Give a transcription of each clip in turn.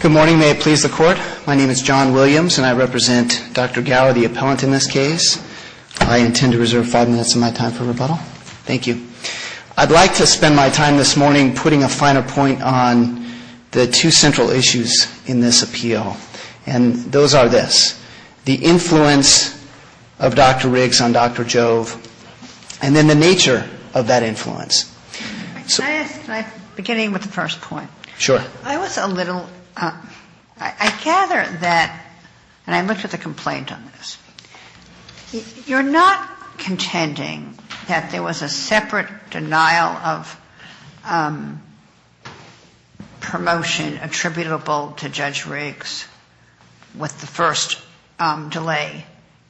Good morning. May it please the Court. My name is John Williams and I represent Dr. Gaur, the appellant in this case. I intend to reserve five minutes of my time for rebuttal. Thank you. I'd like to spend my time this morning putting a finer point on the two central issues in this appeal. And those are this, the influence of Dr. Riggs on Dr. Jove, and then the nature of that influence. Can I ask, beginning with the first point? Sure. I was a little, I gather that, and I looked at the complaint on this, you're not contending that there was a separate denial of promotion attributable to Judge Riggs with the first delay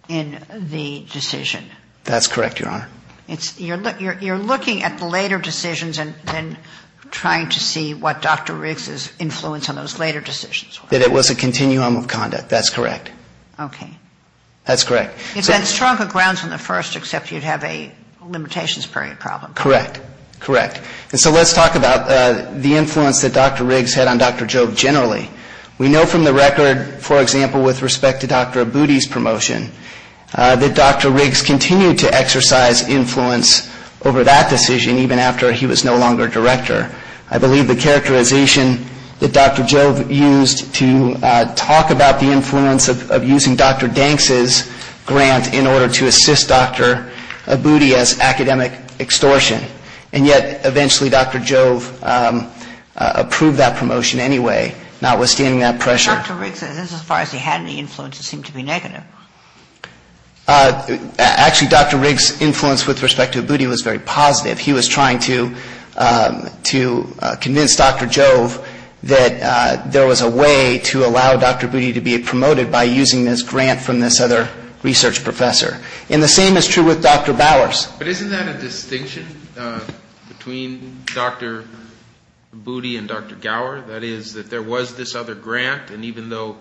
in the decision? That's correct, Your Honor. You're looking at the later decisions and then trying to see what Dr. Riggs' influence on those later decisions was? That it was a continuum of conduct. That's correct. Okay. That's correct. It's that stronger grounds on the first, except you'd have a limitations period problem. Correct. Correct. And so let's talk about the influence that Dr. Riggs had on Dr. Jove generally. We know from the record, for example, with respect to Dr. Aboody's promotion, that Dr. Riggs continued to exercise influence over that decision even after he was no longer director. I believe the characterization that Dr. Jove used to talk about the influence of using Dr. Danks' grant in order to assist Dr. Aboody as academic extortion. And yet eventually Dr. Jove approved that promotion anyway, notwithstanding that pressure. Dr. Riggs, as far as he had any influence, seemed to be negative. Actually, Dr. Riggs' influence with respect to Aboody was very positive. He was trying to convince Dr. Jove that there was a way to allow Dr. Aboody to be promoted by using this grant from this other research professor. And the same is true with Dr. Bowers. But isn't that a distinction between Dr. Aboody and Dr. Gower? That is, that there was this other grant, and even though,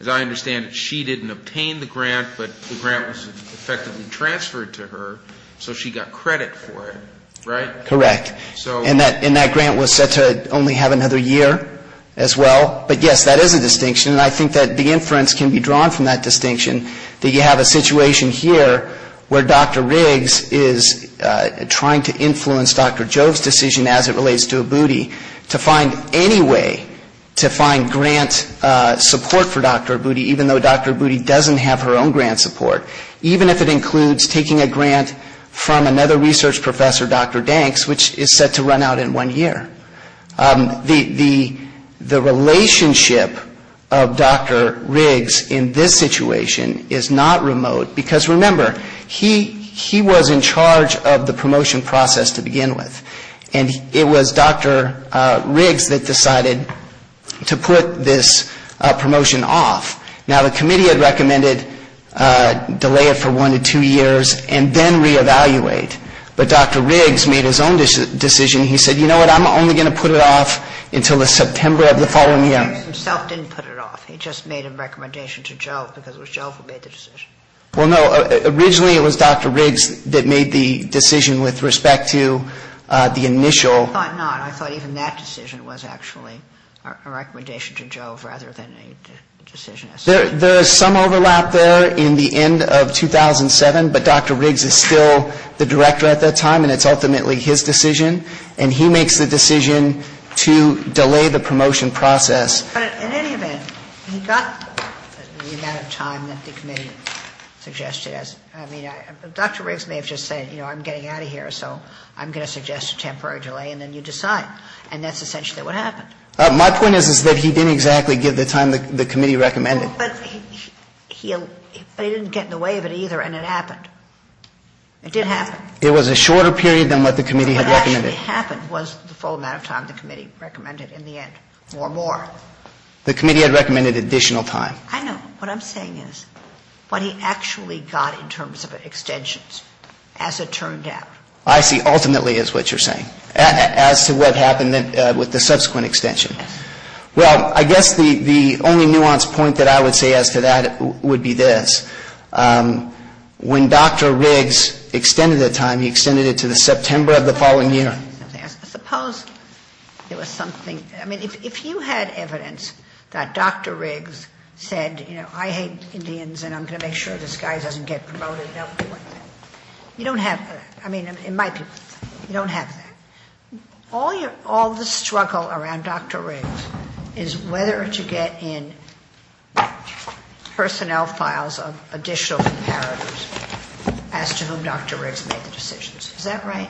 as I understand it, she didn't obtain the grant, but the grant was effectively transferred to her, so she got credit for it, right? Correct. And that grant was set to only have another year as well. But yes, that is a distinction, and I think that the inference can be drawn from that distinction, that you have a situation here where Dr. Riggs is trying to influence Dr. Jove's decision as it relates to Aboody to find any way to find grant support for Dr. Aboody, even though Dr. Aboody doesn't have her own grant support, even if it includes taking a grant from another research professor, Dr. Danks, which is set to run out in one year. The relationship of Dr. Riggs in this situation is not remote, because remember, he was in charge of the promotion process to begin with, and it was Dr. Riggs that decided to put this promotion off. Now, the committee had recommended delay it for one to two years and then reevaluate, but Dr. Riggs made his own decision. He said, you know what, I'm only going to put it off until the September of the following year. Dr. Riggs himself didn't put it off. He just made a recommendation to Jove, because it was Jove who made the decision. Well, no, originally it was Dr. Riggs that made the decision with respect to the initial. I thought not. I thought even that decision was actually a recommendation to Jove rather than a decision as such. There is some overlap there in the end of 2007, but Dr. Riggs is still the director at that time, and it's ultimately his decision. And he makes the decision to delay the promotion process. But in any event, he got the amount of time that the committee suggested. I mean, Dr. Riggs may have just said, you know, I'm getting out of here, so I'm going to suggest a temporary delay, and then you decide. And that's essentially what happened. My point is, is that he didn't exactly give the time the committee recommended. But he didn't get in the way of it either, and it happened. It did happen. It was a shorter period than what the committee had recommended. What actually happened was the full amount of time the committee recommended in the end, or more. The committee had recommended additional time. I know. What I'm saying is what he actually got in terms of extensions, as it turned out. I see ultimately is what you're saying, as to what happened with the subsequent extension. Yes. Well, I guess the only nuanced point that I would say as to that would be this. When Dr. Riggs extended the time, he extended it to the September of the following year. Suppose there was something. I mean, if you had evidence that Dr. Riggs said, you know, I hate Indians, and I'm going to make sure this guy doesn't get promoted. You don't have that. I mean, in my opinion, you don't have that. All the struggle around Dr. Riggs is whether to get in personnel files of additional comparators as to whom Dr. Riggs made the decisions. Is that right?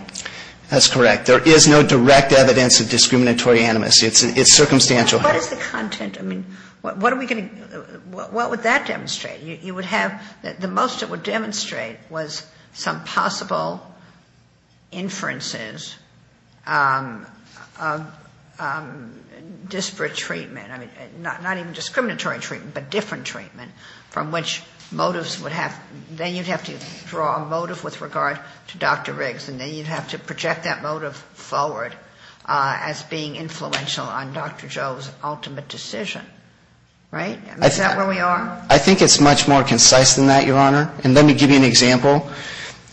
That's correct. There is no direct evidence of discriminatory animus. It's circumstantial. What is the content? I mean, what would that demonstrate? The most it would demonstrate was some possible inferences of disparate treatment. I mean, not even discriminatory treatment, but different treatment from which motives would have... Then you'd have to draw a motive with regard to Dr. Riggs, and then you'd have to project that motive forward as being influential on Dr. Joe's ultimate decision. Right? Is that where we are? I think it's much more concise than that, Your Honor. And let me give you an example.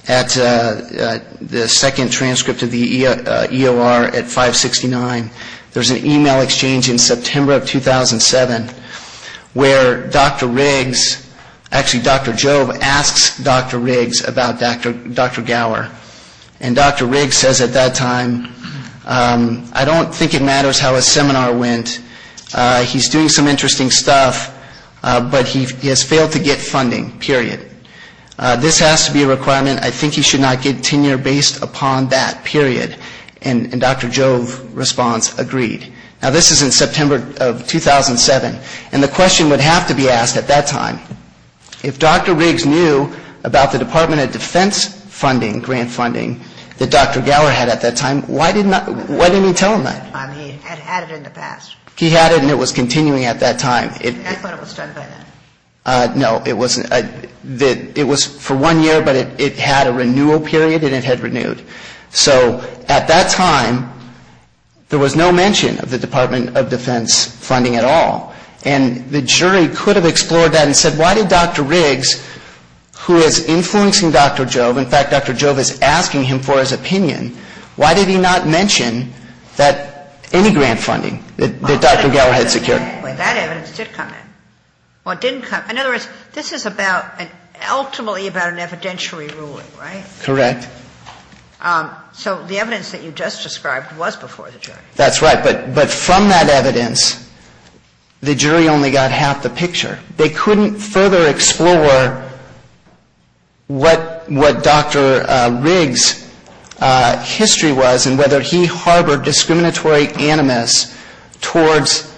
At the second transcript of the EOR at 569, there's an email exchange in September of 2007 where Dr. Riggs, actually Dr. Joe, asks Dr. Riggs about Dr. Gower. And Dr. Riggs says at that time, I don't think it matters how his seminar went. He's doing some interesting stuff, but he has failed to get funding, period. This has to be a requirement. I think he should not get tenure based upon that, period. And Dr. Joe's response agreed. Now, this is in September of 2007, and the question would have to be asked at that time. If Dr. Riggs knew about the Department of Defense funding, grant funding, that Dr. Gower had at that time, why didn't he tell him that? He had it in the past. He had it, and it was continuing at that time. I thought it was done by then. No, it wasn't. It was for one year, but it had a renewal period, and it had renewed. So at that time, there was no mention of the Department of Defense funding at all. And the jury could have explored that and said, why did Dr. Riggs, who is influencing Dr. Jove, in fact, Dr. Jove is asking him for his opinion, why did he not mention any grant funding that Dr. Gower had secured? That evidence did come in. In other words, this is ultimately about an evidentiary ruling, right? Correct. So the evidence that you just described was before the jury. That's right. But from that evidence, the jury only got half the picture. They couldn't further explore what Dr. Riggs' history was and whether he harbored discriminatory animus towards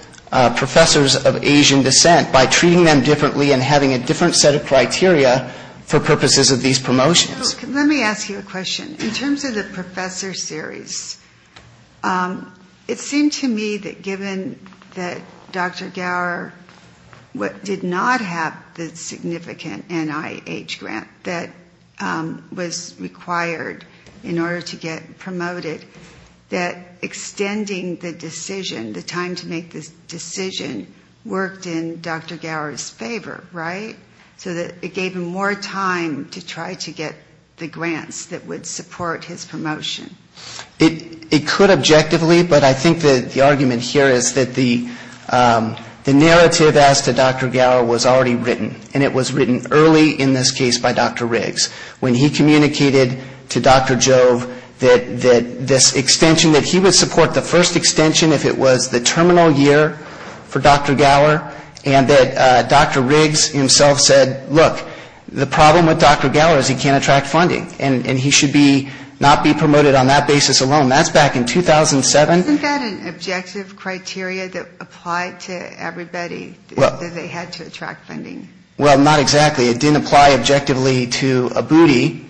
professors of Asian descent by treating them differently and having a different set of criteria for purposes of these promotions. Let me ask you a question. In terms of the professor series, it seemed to me that given that Dr. Gower did not have the significant NIH grant that was required in order to get promoted, that extending the decision, the time to make the decision, worked in Dr. Gower's favor, right? So that it gave him more time to try to get the grants that would support his promotion. It could objectively, but I think that the argument here is that the narrative as to Dr. Gower was already written, and it was written early in this case by Dr. Riggs. When he communicated to Dr. Jove that this extension, that he would support the first extension if it was the terminal year for Dr. Gower, and that Dr. Riggs himself said, look, the problem with Dr. Gower is he can't attract funding, and he should not be promoted on that basis alone. That's back in 2007. Isn't that an objective criteria that applied to everybody, that they had to attract funding? Well, not exactly. It didn't apply objectively to ABUTI,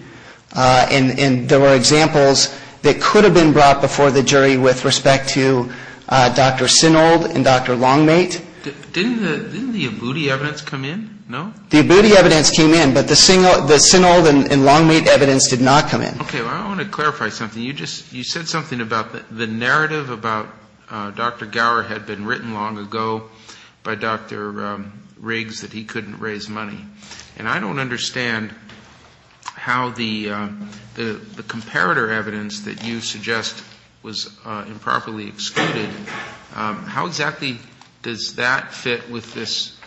and there were examples that could have been brought before the jury with respect to Dr. Sinold and Dr. Longmate. Didn't the ABUTI evidence come in? No? The ABUTI evidence came in, but the Sinold and Longmate evidence did not come in. I want to clarify something. You said something about the narrative about Dr. Gower had been written long ago by Dr. Riggs that he couldn't raise money. And I don't understand how the comparator evidence that you suggest was improperly excluded. How exactly does that fit with this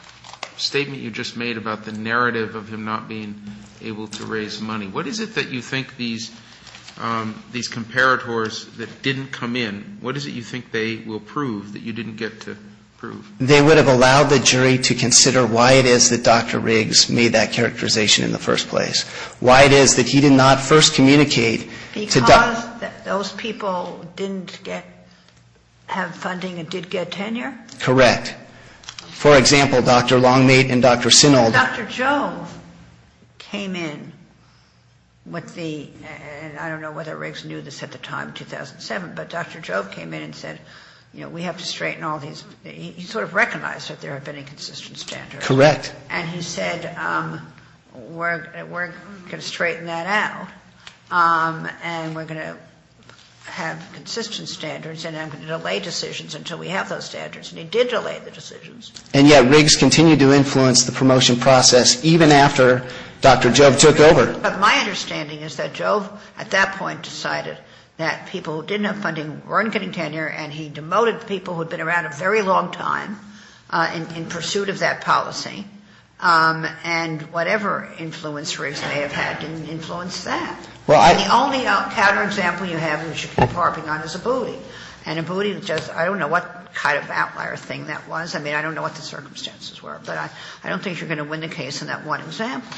statement you just made about the narrative of him not being able to raise money? What is it that you think these comparators that didn't come in, what is it you think they will prove that you didn't get to prove? They would have allowed the jury to consider why it is that Dr. Riggs made that characterization in the first place, why it is that he did not first communicate to Dr. Because those people didn't have funding and did get tenure? Correct. For example, Dr. Longmate and Dr. Sinold. Dr. Jove came in with the, and I don't know whether Riggs knew this at the time, 2007, but Dr. Jove came in and said, you know, we have to straighten all these. He sort of recognized that there had been inconsistent standards. Correct. And he said we're going to straighten that out and we're going to have consistent standards and I'm going to delay decisions until we have those standards. And he did delay the decisions. And yet Riggs continued to influence the promotion process even after Dr. Jove took over. But my understanding is that Jove at that point decided that people who didn't have funding weren't getting tenure and he demoted people who had been around a very long time in pursuit of that policy. And whatever influence Riggs may have had didn't influence that. The only counterexample you have which you keep harping on is Abboudi. And Abboudi just, I don't know what kind of outlier thing that was. I mean, I don't know what the circumstances were, but I don't think you're going to win the case in that one example.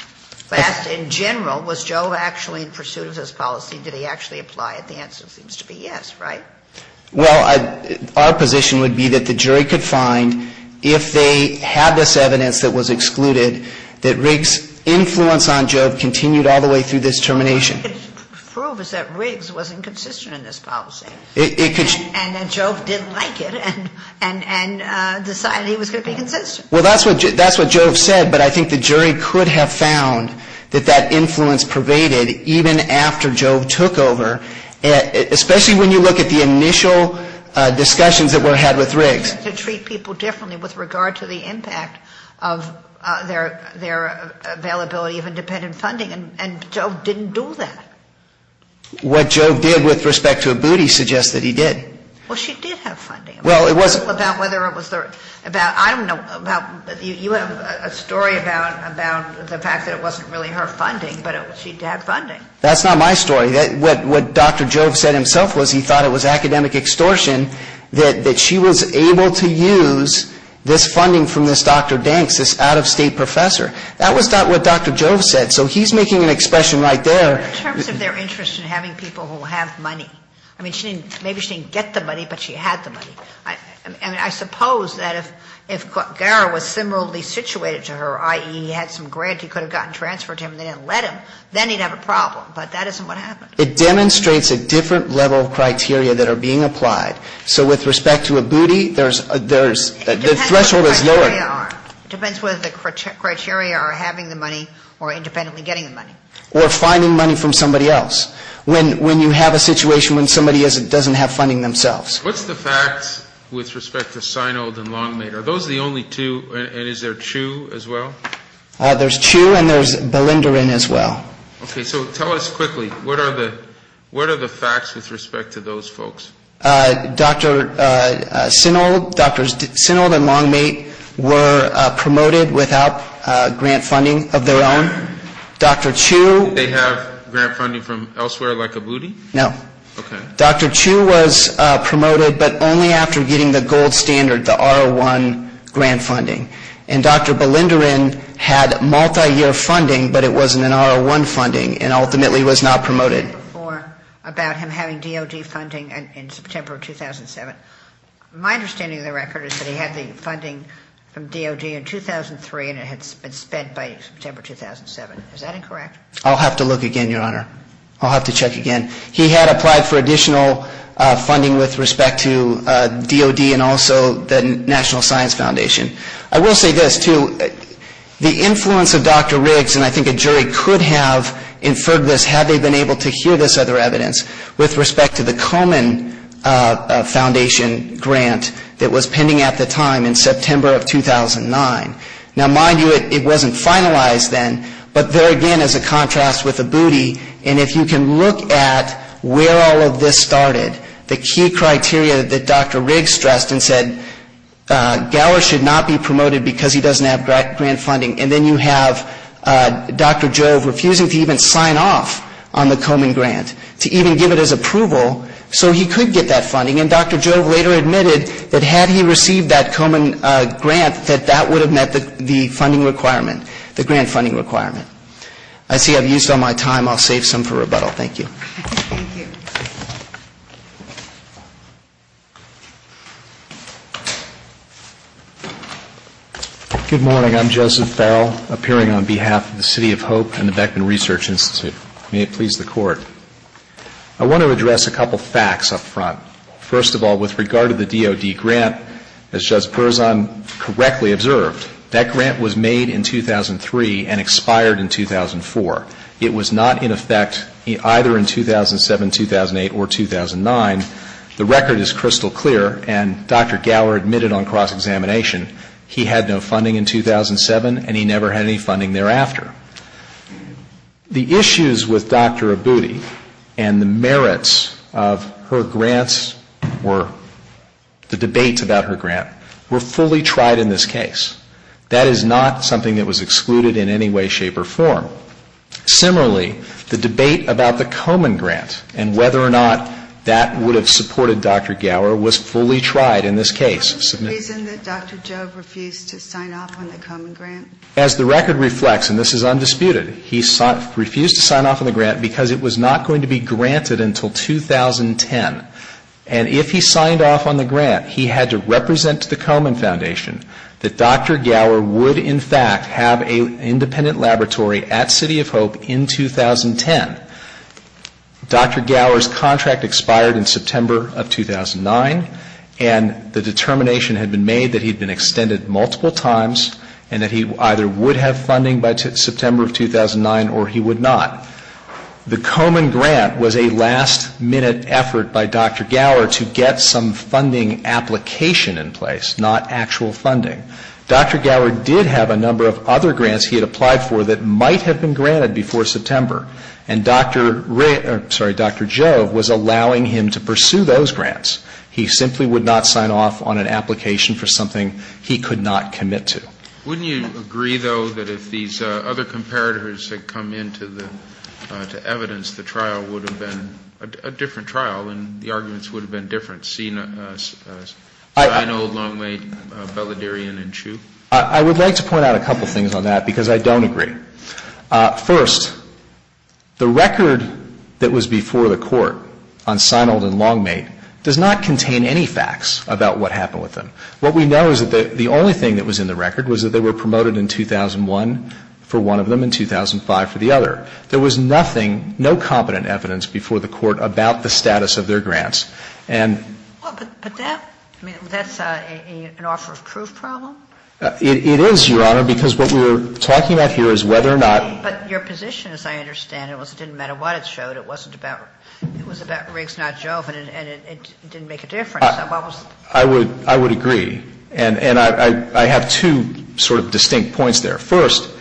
But in general, was Jove actually in pursuit of this policy? Did he actually apply it? The answer seems to be yes, right? Well, our position would be that the jury could find, if they had this evidence that was excluded, that Riggs' influence on Jove continued all the way through this termination. What it could prove is that Riggs wasn't consistent in this policy. And that Jove didn't like it and decided he was going to be consistent. Well, that's what Jove said. But I think the jury could have found that that influence pervaded even after Jove took over, especially when you look at the initial discussions that were had with Riggs. I mean, he wanted to treat people differently with regard to the impact of their availability of independent funding. And Jove didn't do that. What Jove did with respect to Abboudi suggests that he did. Well, she did have funding. Well, it wasn't. About whether it was their, about, I don't know, about, you have a story about the fact that it wasn't really her funding, but she did have funding. That's not my story. What Dr. Jove said himself was he thought it was academic extortion that she was able to use this funding from this Dr. Danks, this out-of-state professor. That was not what Dr. Jove said. So he's making an expression right there. In terms of their interest in having people who have money, I mean, she didn't, maybe she didn't get the money, but she had the money. I mean, I suppose that if Gara was similarly situated to her, i.e., he had some grant he could have gotten transferred to him and they didn't let him, then he'd have a problem. But that isn't what happened. It demonstrates a different level of criteria that are being applied. So with respect to Abboudi, there's, the threshold is lower. It depends what the criteria are. It depends whether the criteria are having the money or independently getting the money. Or finding money from somebody else. When you have a situation when somebody doesn't have funding themselves. What's the facts with respect to Sinold and Longmate? Are those the only two? And is there Chu as well? There's Chu and there's Belindarin as well. Okay, so tell us quickly. What are the facts with respect to those folks? Dr. Sinold and Longmate were promoted without grant funding of their own. Dr. Chu. Did they have grant funding from elsewhere like Abboudi? No. Okay. Dr. Chu was promoted but only after getting the gold standard, the R01 grant funding. And Dr. Belindarin had multi-year funding but it wasn't an R01 funding and ultimately was not promoted. About him having DOD funding in September of 2007. My understanding of the record is that he had the funding from DOD in 2003 and it had been spent by September 2007. Is that incorrect? I'll have to look again, Your Honor. I'll have to check again. He had applied for additional funding with respect to DOD and also the National Science Foundation. I will say this too. The influence of Dr. Riggs and I think a jury could have inferred this had they been able to hear this other evidence with respect to the Komen Foundation grant that was pending at the time in September of 2009. Now, mind you, it wasn't finalized then but there again is a contrast with Abboudi. And if you can look at where all of this started, the key criteria that Dr. Riggs stressed and said Gower should not be promoted because he doesn't have grant funding and then you have Dr. Jove refusing to even sign off on the Komen grant, to even give it as approval so he could get that funding. And Dr. Jove later admitted that had he received that Komen grant that that would have met the funding requirement, the grant funding requirement. I see I've used all my time. I'll save some for rebuttal. Thank you. Thank you. Good morning. I'm Joseph Farrell, appearing on behalf of the City of Hope and the Beckman Research Institute. May it please the Court. I want to address a couple of facts up front. First of all, with regard to the DOD grant, as Judge Perzan correctly observed, that grant was made in 2003 and expired in 2004. It was not in effect either in 2007, 2008 or 2009. The record is crystal clear and Dr. Gower admitted on cross-examination he had no funding in 2007 and he never had any funding thereafter. The issues with Dr. Abboudi and the merits of her grants were, the debates about her grant, were fully tried in this case. That is not something that was excluded in any way, shape or form. Similarly, the debate about the Komen grant and whether or not that would have supported Dr. Gower was fully tried in this case. Is there a reason that Dr. Jove refused to sign off on the Komen grant? As the record reflects, and this is undisputed, he refused to sign off on the grant because it was not going to be granted until 2010. And if he signed off on the grant, he had to represent the Komen Foundation, that Dr. Gower would in fact have an independent laboratory at City of Hope in 2010. Dr. Gower's contract expired in September of 2009 and the determination had been made that he had been extended multiple times and that he either would have funding by September of 2009 or he would not. The Komen grant was a last-minute effort by Dr. Gower to get some funding application in place, not actual funding. Dr. Gower did have a number of other grants he had applied for that might have been granted before September. And Dr. Jove was allowing him to pursue those grants. He simply would not sign off on an application for something he could not commit to. Wouldn't you agree, though, that if these other comparators had come into the evidence, the trial would have been a different trial and the arguments would have been different, seeing Seinold, Longmate, Belladurian and Chu? I would like to point out a couple of things on that because I don't agree. First, the record that was before the Court on Seinold and Longmate does not contain any facts about what happened with them. What we know is that the only thing that was in the record was that they were promoted in 2001 for one of them and 2005 for the other. There was nothing, no competent evidence before the Court about the status of their grants. And ---- But that, I mean, that's an offer of proof problem? It is, Your Honor, because what we're talking about here is whether or not ---- But your position, as I understand it, was it didn't matter what it showed. It wasn't about, it was about Riggs, not Jove, and it didn't make a difference. So what was the ---- I would agree. And I have two sort of distinct points there. First,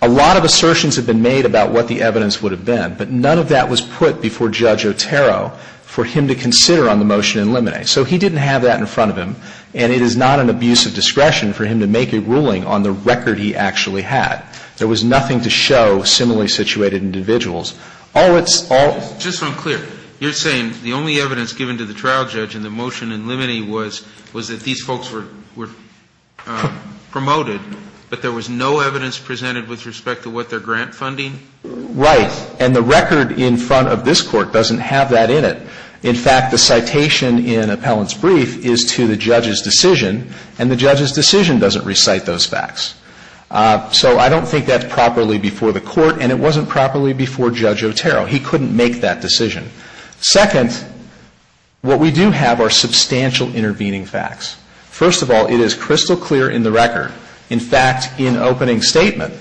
a lot of assertions have been made about what the evidence would have been, but none of that was put before Judge Otero for him to consider on the motion in limine. So he didn't have that in front of him, and it is not an abuse of discretion for him to make a ruling on the record he actually had. There was nothing to show similarly situated individuals. All it's ---- It's just unclear. You're saying the only evidence given to the trial judge in the motion in limine was that these folks were promoted, but there was no evidence presented with respect to what their grant funding? Right. And the record in front of this Court doesn't have that in it. In fact, the citation in Appellant's brief is to the judge's decision, and the judge's decision doesn't recite those facts. So I don't think that's properly before the Court, and it wasn't properly before Judge Otero. He couldn't make that decision. Second, what we do have are substantial intervening facts. First of all, it is crystal clear in the record. In fact, in opening statement,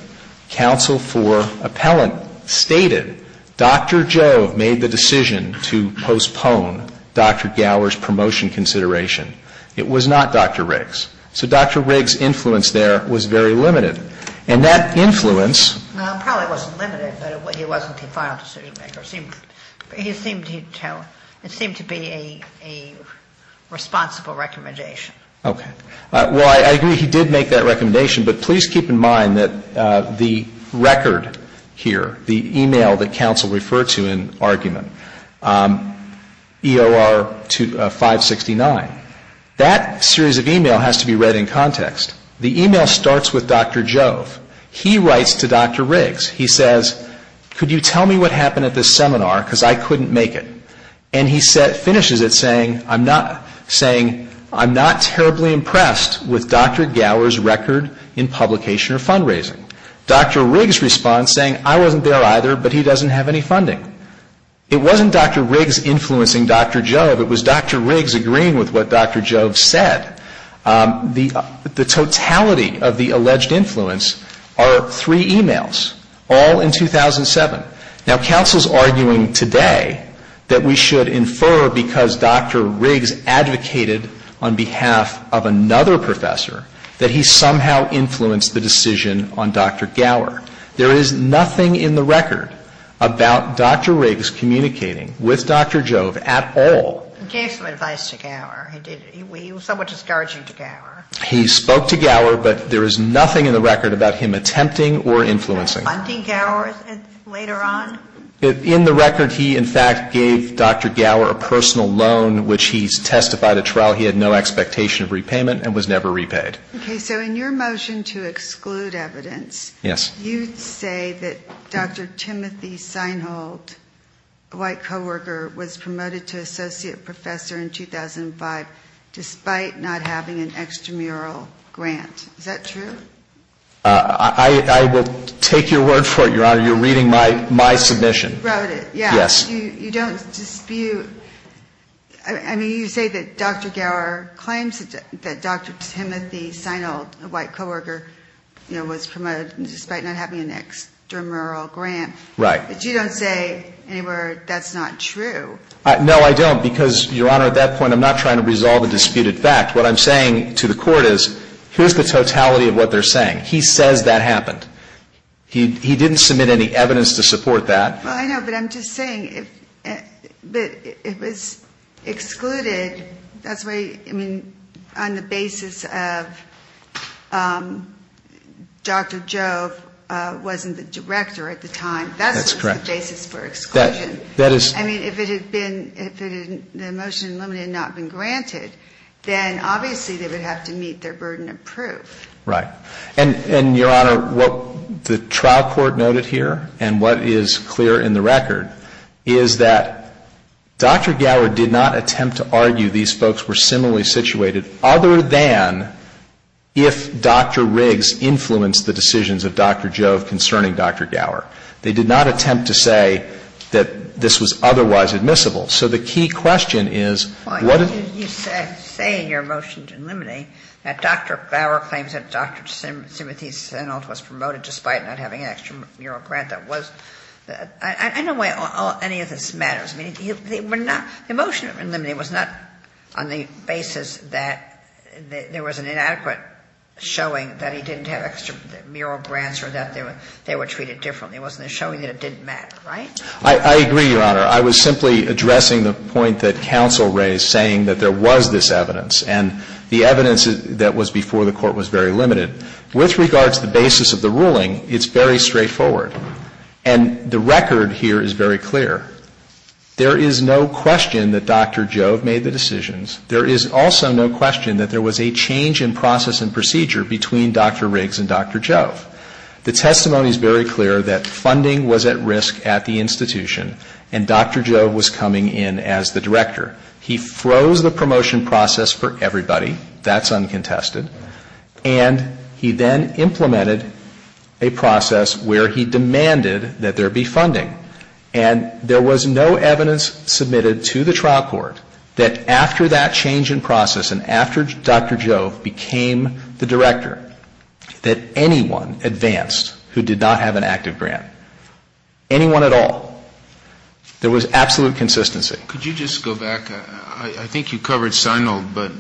counsel for Appellant stated Dr. Joe made the decision to postpone Dr. Gower's promotion consideration. It was not Dr. Riggs. So Dr. Riggs' influence there was very limited. And that influence ---- Probably wasn't limited, but it wasn't the final decision maker. It seemed to be a responsible recommendation. Okay. Well, I agree he did make that recommendation, but please keep in mind that the record here, the e-mail that counsel referred to in argument, EOR 569, that series of e-mail has to be read in context. The e-mail starts with Dr. Jove. He writes to Dr. Riggs. He says, could you tell me what happened at this seminar, because I couldn't make it. And he finishes it saying, I'm not terribly impressed with Dr. Gower's record in publication or fundraising. Dr. Riggs responds saying, I wasn't there either, but he doesn't have any funding. It wasn't Dr. Riggs influencing Dr. Jove. It was Dr. Riggs agreeing with what Dr. Jove said. The totality of the alleged influence are three e-mails, all in 2007. Now, counsel is arguing today that we should infer, because Dr. Riggs advocated on behalf of another professor, that he somehow influenced the decision on Dr. Gower. There is nothing in the record about Dr. Riggs communicating with Dr. Jove at all. He gave some advice to Gower. He was somewhat discouraging to Gower. He spoke to Gower, but there is nothing in the record about him attempting or influencing. Funding Gower later on? In the record, he in fact gave Dr. Gower a personal loan, which he testified at trial he had no expectation of repayment and was never repaid. Okay. So in your motion to exclude evidence, you say that Dr. Timothy Seinhold, a white co-worker, was promoted to associate professor in 2005 despite not having an extramural grant. Is that true? I will take your word for it, Your Honor. You're reading my submission. You wrote it. Yes. You don't dispute. I mean, you say that Dr. Gower claims that Dr. Timothy Seinhold, a white co-worker, was promoted despite not having an extramural grant. Right. But you don't say anywhere that's not true. No, I don't, because, Your Honor, at that point I'm not trying to resolve a disputed fact. What I'm saying to the Court is here's the totality of what they're saying. He says that happened. He didn't submit any evidence to support that. Well, I know, but I'm just saying if it was excluded, that's why, I mean, on the basis of Dr. Jove wasn't the director at the time. That's correct. That's the basis for exclusion. That is. I mean, if it had been, if the motion limited and not been granted, then obviously they would have to meet their burden of proof. Right. And, Your Honor, what the trial court noted here and what is clear in the record is that Dr. Gower did not attempt to argue these folks were similarly situated other than if Dr. Riggs influenced the decisions of Dr. Jove concerning Dr. Gower. They did not attempt to say that this was otherwise admissible. So the key question is, what did you say in your motion to eliminate that Dr. Gower claims that Dr. Timothy Sennelt was promoted despite not having an extramural grant that was? I don't know why any of this matters. I mean, they were not, the motion to eliminate was not on the basis that there was an inadequate showing that he didn't have extramural grants or that they were treated differently. It wasn't a showing that it didn't matter. I agree, Your Honor. I was simply addressing the point that counsel raised saying that there was this evidence. And the evidence that was before the Court was very limited. With regards to the basis of the ruling, it's very straightforward. And the record here is very clear. There is no question that Dr. Jove made the decisions. There is also no question that there was a change in process and procedure between Dr. Riggs and Dr. Jove. The testimony is very clear that funding was at risk at the institution and Dr. Jove was coming in as the director. He froze the promotion process for everybody. That's uncontested. And he then implemented a process where he demanded that there be funding. And there was no evidence submitted to the trial court that after that change in who did not have an active grant. Anyone at all. There was absolute consistency. Could you just go back? I think you covered Seinold, but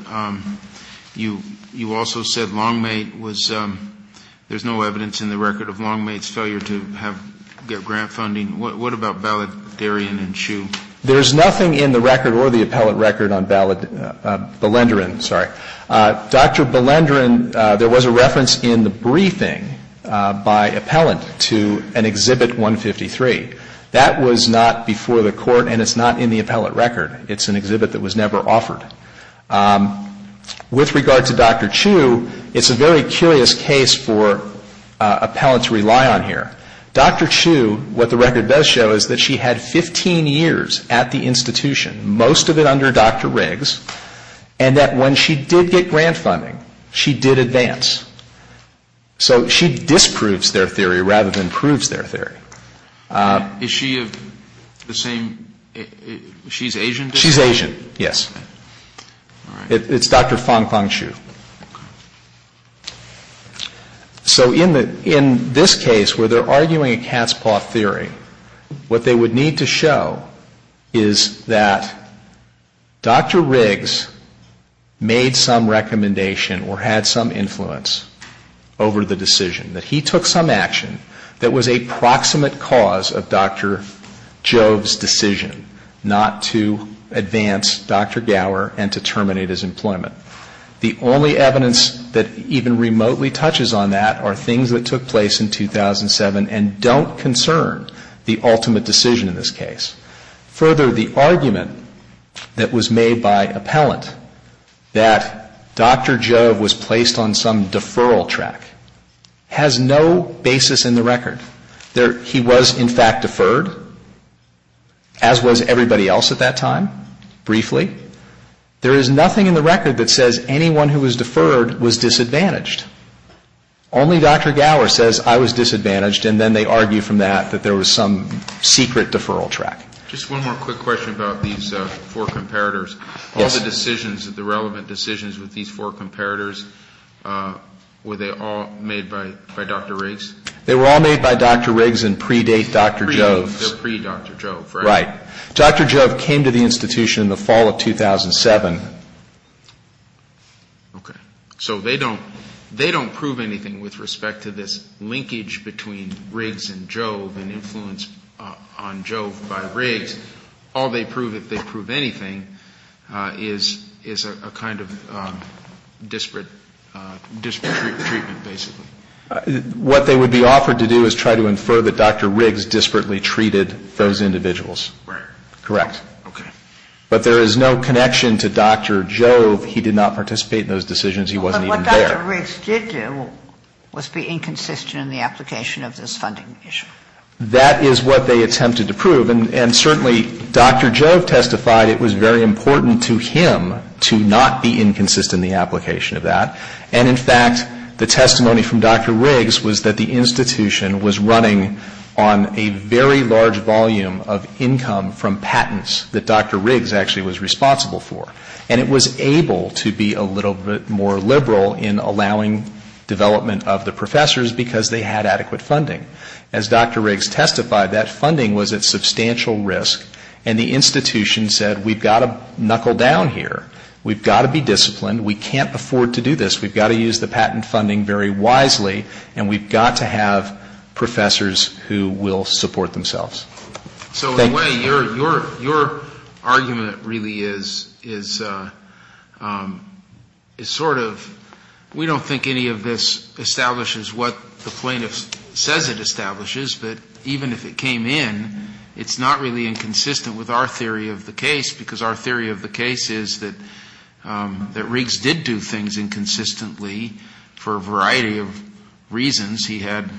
you also said Longmate was, there's no evidence in the record of Longmate's failure to get grant funding. What about Baledarian and Shue? Dr. Baledarian, there was a reference in the briefing by appellant to an exhibit 153. That was not before the court and it's not in the appellant record. It's an exhibit that was never offered. With regard to Dr. Shue, it's a very curious case for appellants to rely on here. Dr. Shue, what the record does show is that she had 15 years at the institution, most of it under Dr. Riggs, and that when she did get grant funding, she did advance. So she disproves their theory rather than proves their theory. Is she of the same, she's Asian? She's Asian, yes. All right. It's Dr. Fong Fong Shue. So in this case where they're arguing a cat's paw theory, what they would need to show is that Dr. Riggs made some recommendation or had some influence over the decision. That he took some action that was a proximate cause of Dr. Jove's decision not to advance Dr. Gower and to terminate his employment. The only evidence that even remotely touches on that are things that took place in 2007 and don't concern the ultimate decision in this case. Further, the argument that was made by appellant that Dr. Jove was placed on some deferral track has no basis in the record. He was in fact deferred, as was everybody else at that time, briefly. There is nothing in the record that says anyone who was deferred was disadvantaged. Only Dr. Gower says I was disadvantaged and then they argue from that that there was some secret deferral track. Just one more quick question about these four comparators. Yes. All the decisions, the relevant decisions with these four comparators, were they all made by Dr. Riggs? They were all made by Dr. Riggs and predate Dr. Jove. Predate, they're pre-Dr. Jove, right? Right. Dr. Jove came to the institution in the fall of 2007. Okay. So they don't prove anything with respect to this linkage between Riggs and Jove and influence on Jove by Riggs. All they prove, if they prove anything, is a kind of disparate treatment, basically. What they would be offered to do is try to infer that Dr. Riggs disparately treated those individuals. Right. Correct. Okay. But there is no connection to Dr. Jove. He did not participate in those decisions. He wasn't even there. But what Dr. Riggs did do was be inconsistent in the application of this funding issue. That is what they attempted to prove. And certainly Dr. Jove testified it was very important to him to not be inconsistent in the application of that. And, in fact, the testimony from Dr. Riggs was that the institution was running on a very large volume of income from patents that Dr. Riggs actually was responsible for. And it was able to be a little bit more liberal in allowing development of the professors because they had adequate funding. As Dr. Riggs testified, that funding was at substantial risk. And the institution said we've got to knuckle down here. We've got to be disciplined. We can't afford to do this. We've got to use the patent funding very wisely. And we've got to have professors who will support themselves. So, in a way, your argument really is sort of we don't think any of this establishes what the plaintiff says it establishes. But even if it came in, it's not really inconsistent with our theory of the case because our theory of the case is that Riggs did do things inconsistently for a variety of reasons he had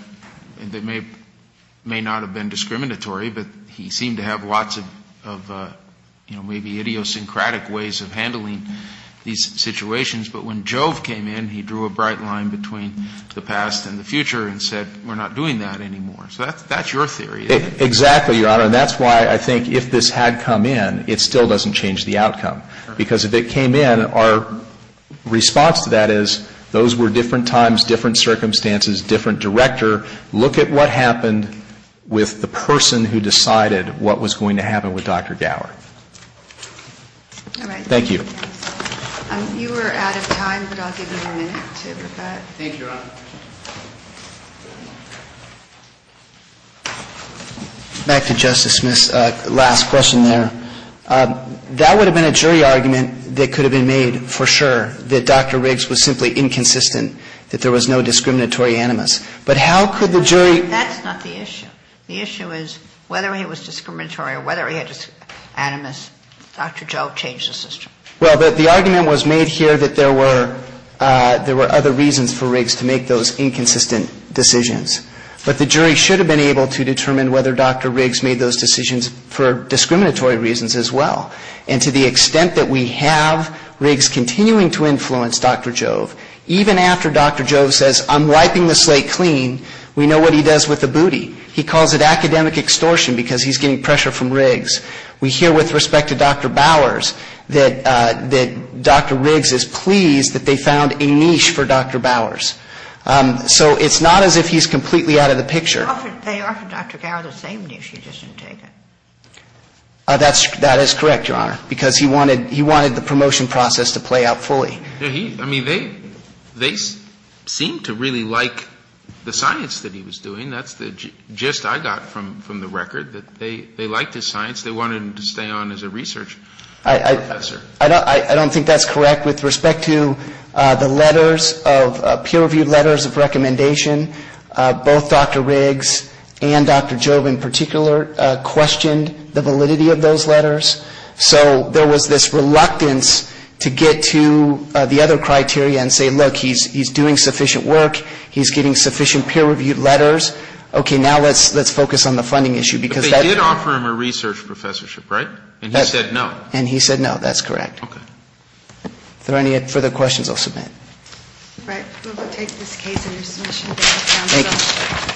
that may not have been discriminatory. But he seemed to have lots of, you know, maybe idiosyncratic ways of handling these situations. But when Jove came in, he drew a bright line between the past and the future and said we're not doing that anymore. So that's your theory. Exactly, Your Honor. And that's why I think if this had come in, it still doesn't change the outcome. Because if it came in, our response to that is those were different times, different circumstances, different director. Look at what happened with the person who decided what was going to happen with Dr. Gower. All right. Thank you. You are out of time, but I'll give you a minute to reflect. Thank you, Your Honor. Back to Justice Smith's last question there. That would have been a jury argument that could have been made for sure that Dr. Riggs was simply inconsistent, that there was no discriminatory animus. But how could the jury ---- That's not the issue. The issue is whether he was discriminatory or whether he had animus, Dr. Jove changed the system. Well, the argument was made here that there were other reasons for Riggs to make those inconsistent decisions. But the jury should have been able to determine whether Dr. Riggs made those decisions for discriminatory reasons as well. And to the extent that we have Riggs continuing to influence Dr. Jove, even after Dr. Jove says, I'm wiping the slate clean, we know what he does with the booty. He calls it academic extortion because he's getting pressure from Riggs. We hear with respect to Dr. Bowers that Dr. Riggs is pleased that they found a niche for Dr. Bowers. So it's not as if he's completely out of the picture. They offered Dr. Gow the same niche. He just didn't take it. That is correct, Your Honor, because he wanted the promotion process to play out fully. I mean, they seem to really like the science that he was doing. That's the gist I got from the record, that they liked his science. They wanted him to stay on as a research professor. I don't think that's correct with respect to the letters of peer-reviewed letters of recommendation. Both Dr. Riggs and Dr. Jove in particular questioned the validity of those letters. So there was this reluctance to get to the other criteria and say, look, he's doing sufficient work. He's getting sufficient peer-reviewed letters. Okay, now let's focus on the funding issue. But they did offer him a research professorship, right? And he said no. And he said no. That's correct. Okay. If there are any further questions, I'll submit. All right. We'll take this case under submission. Thank you.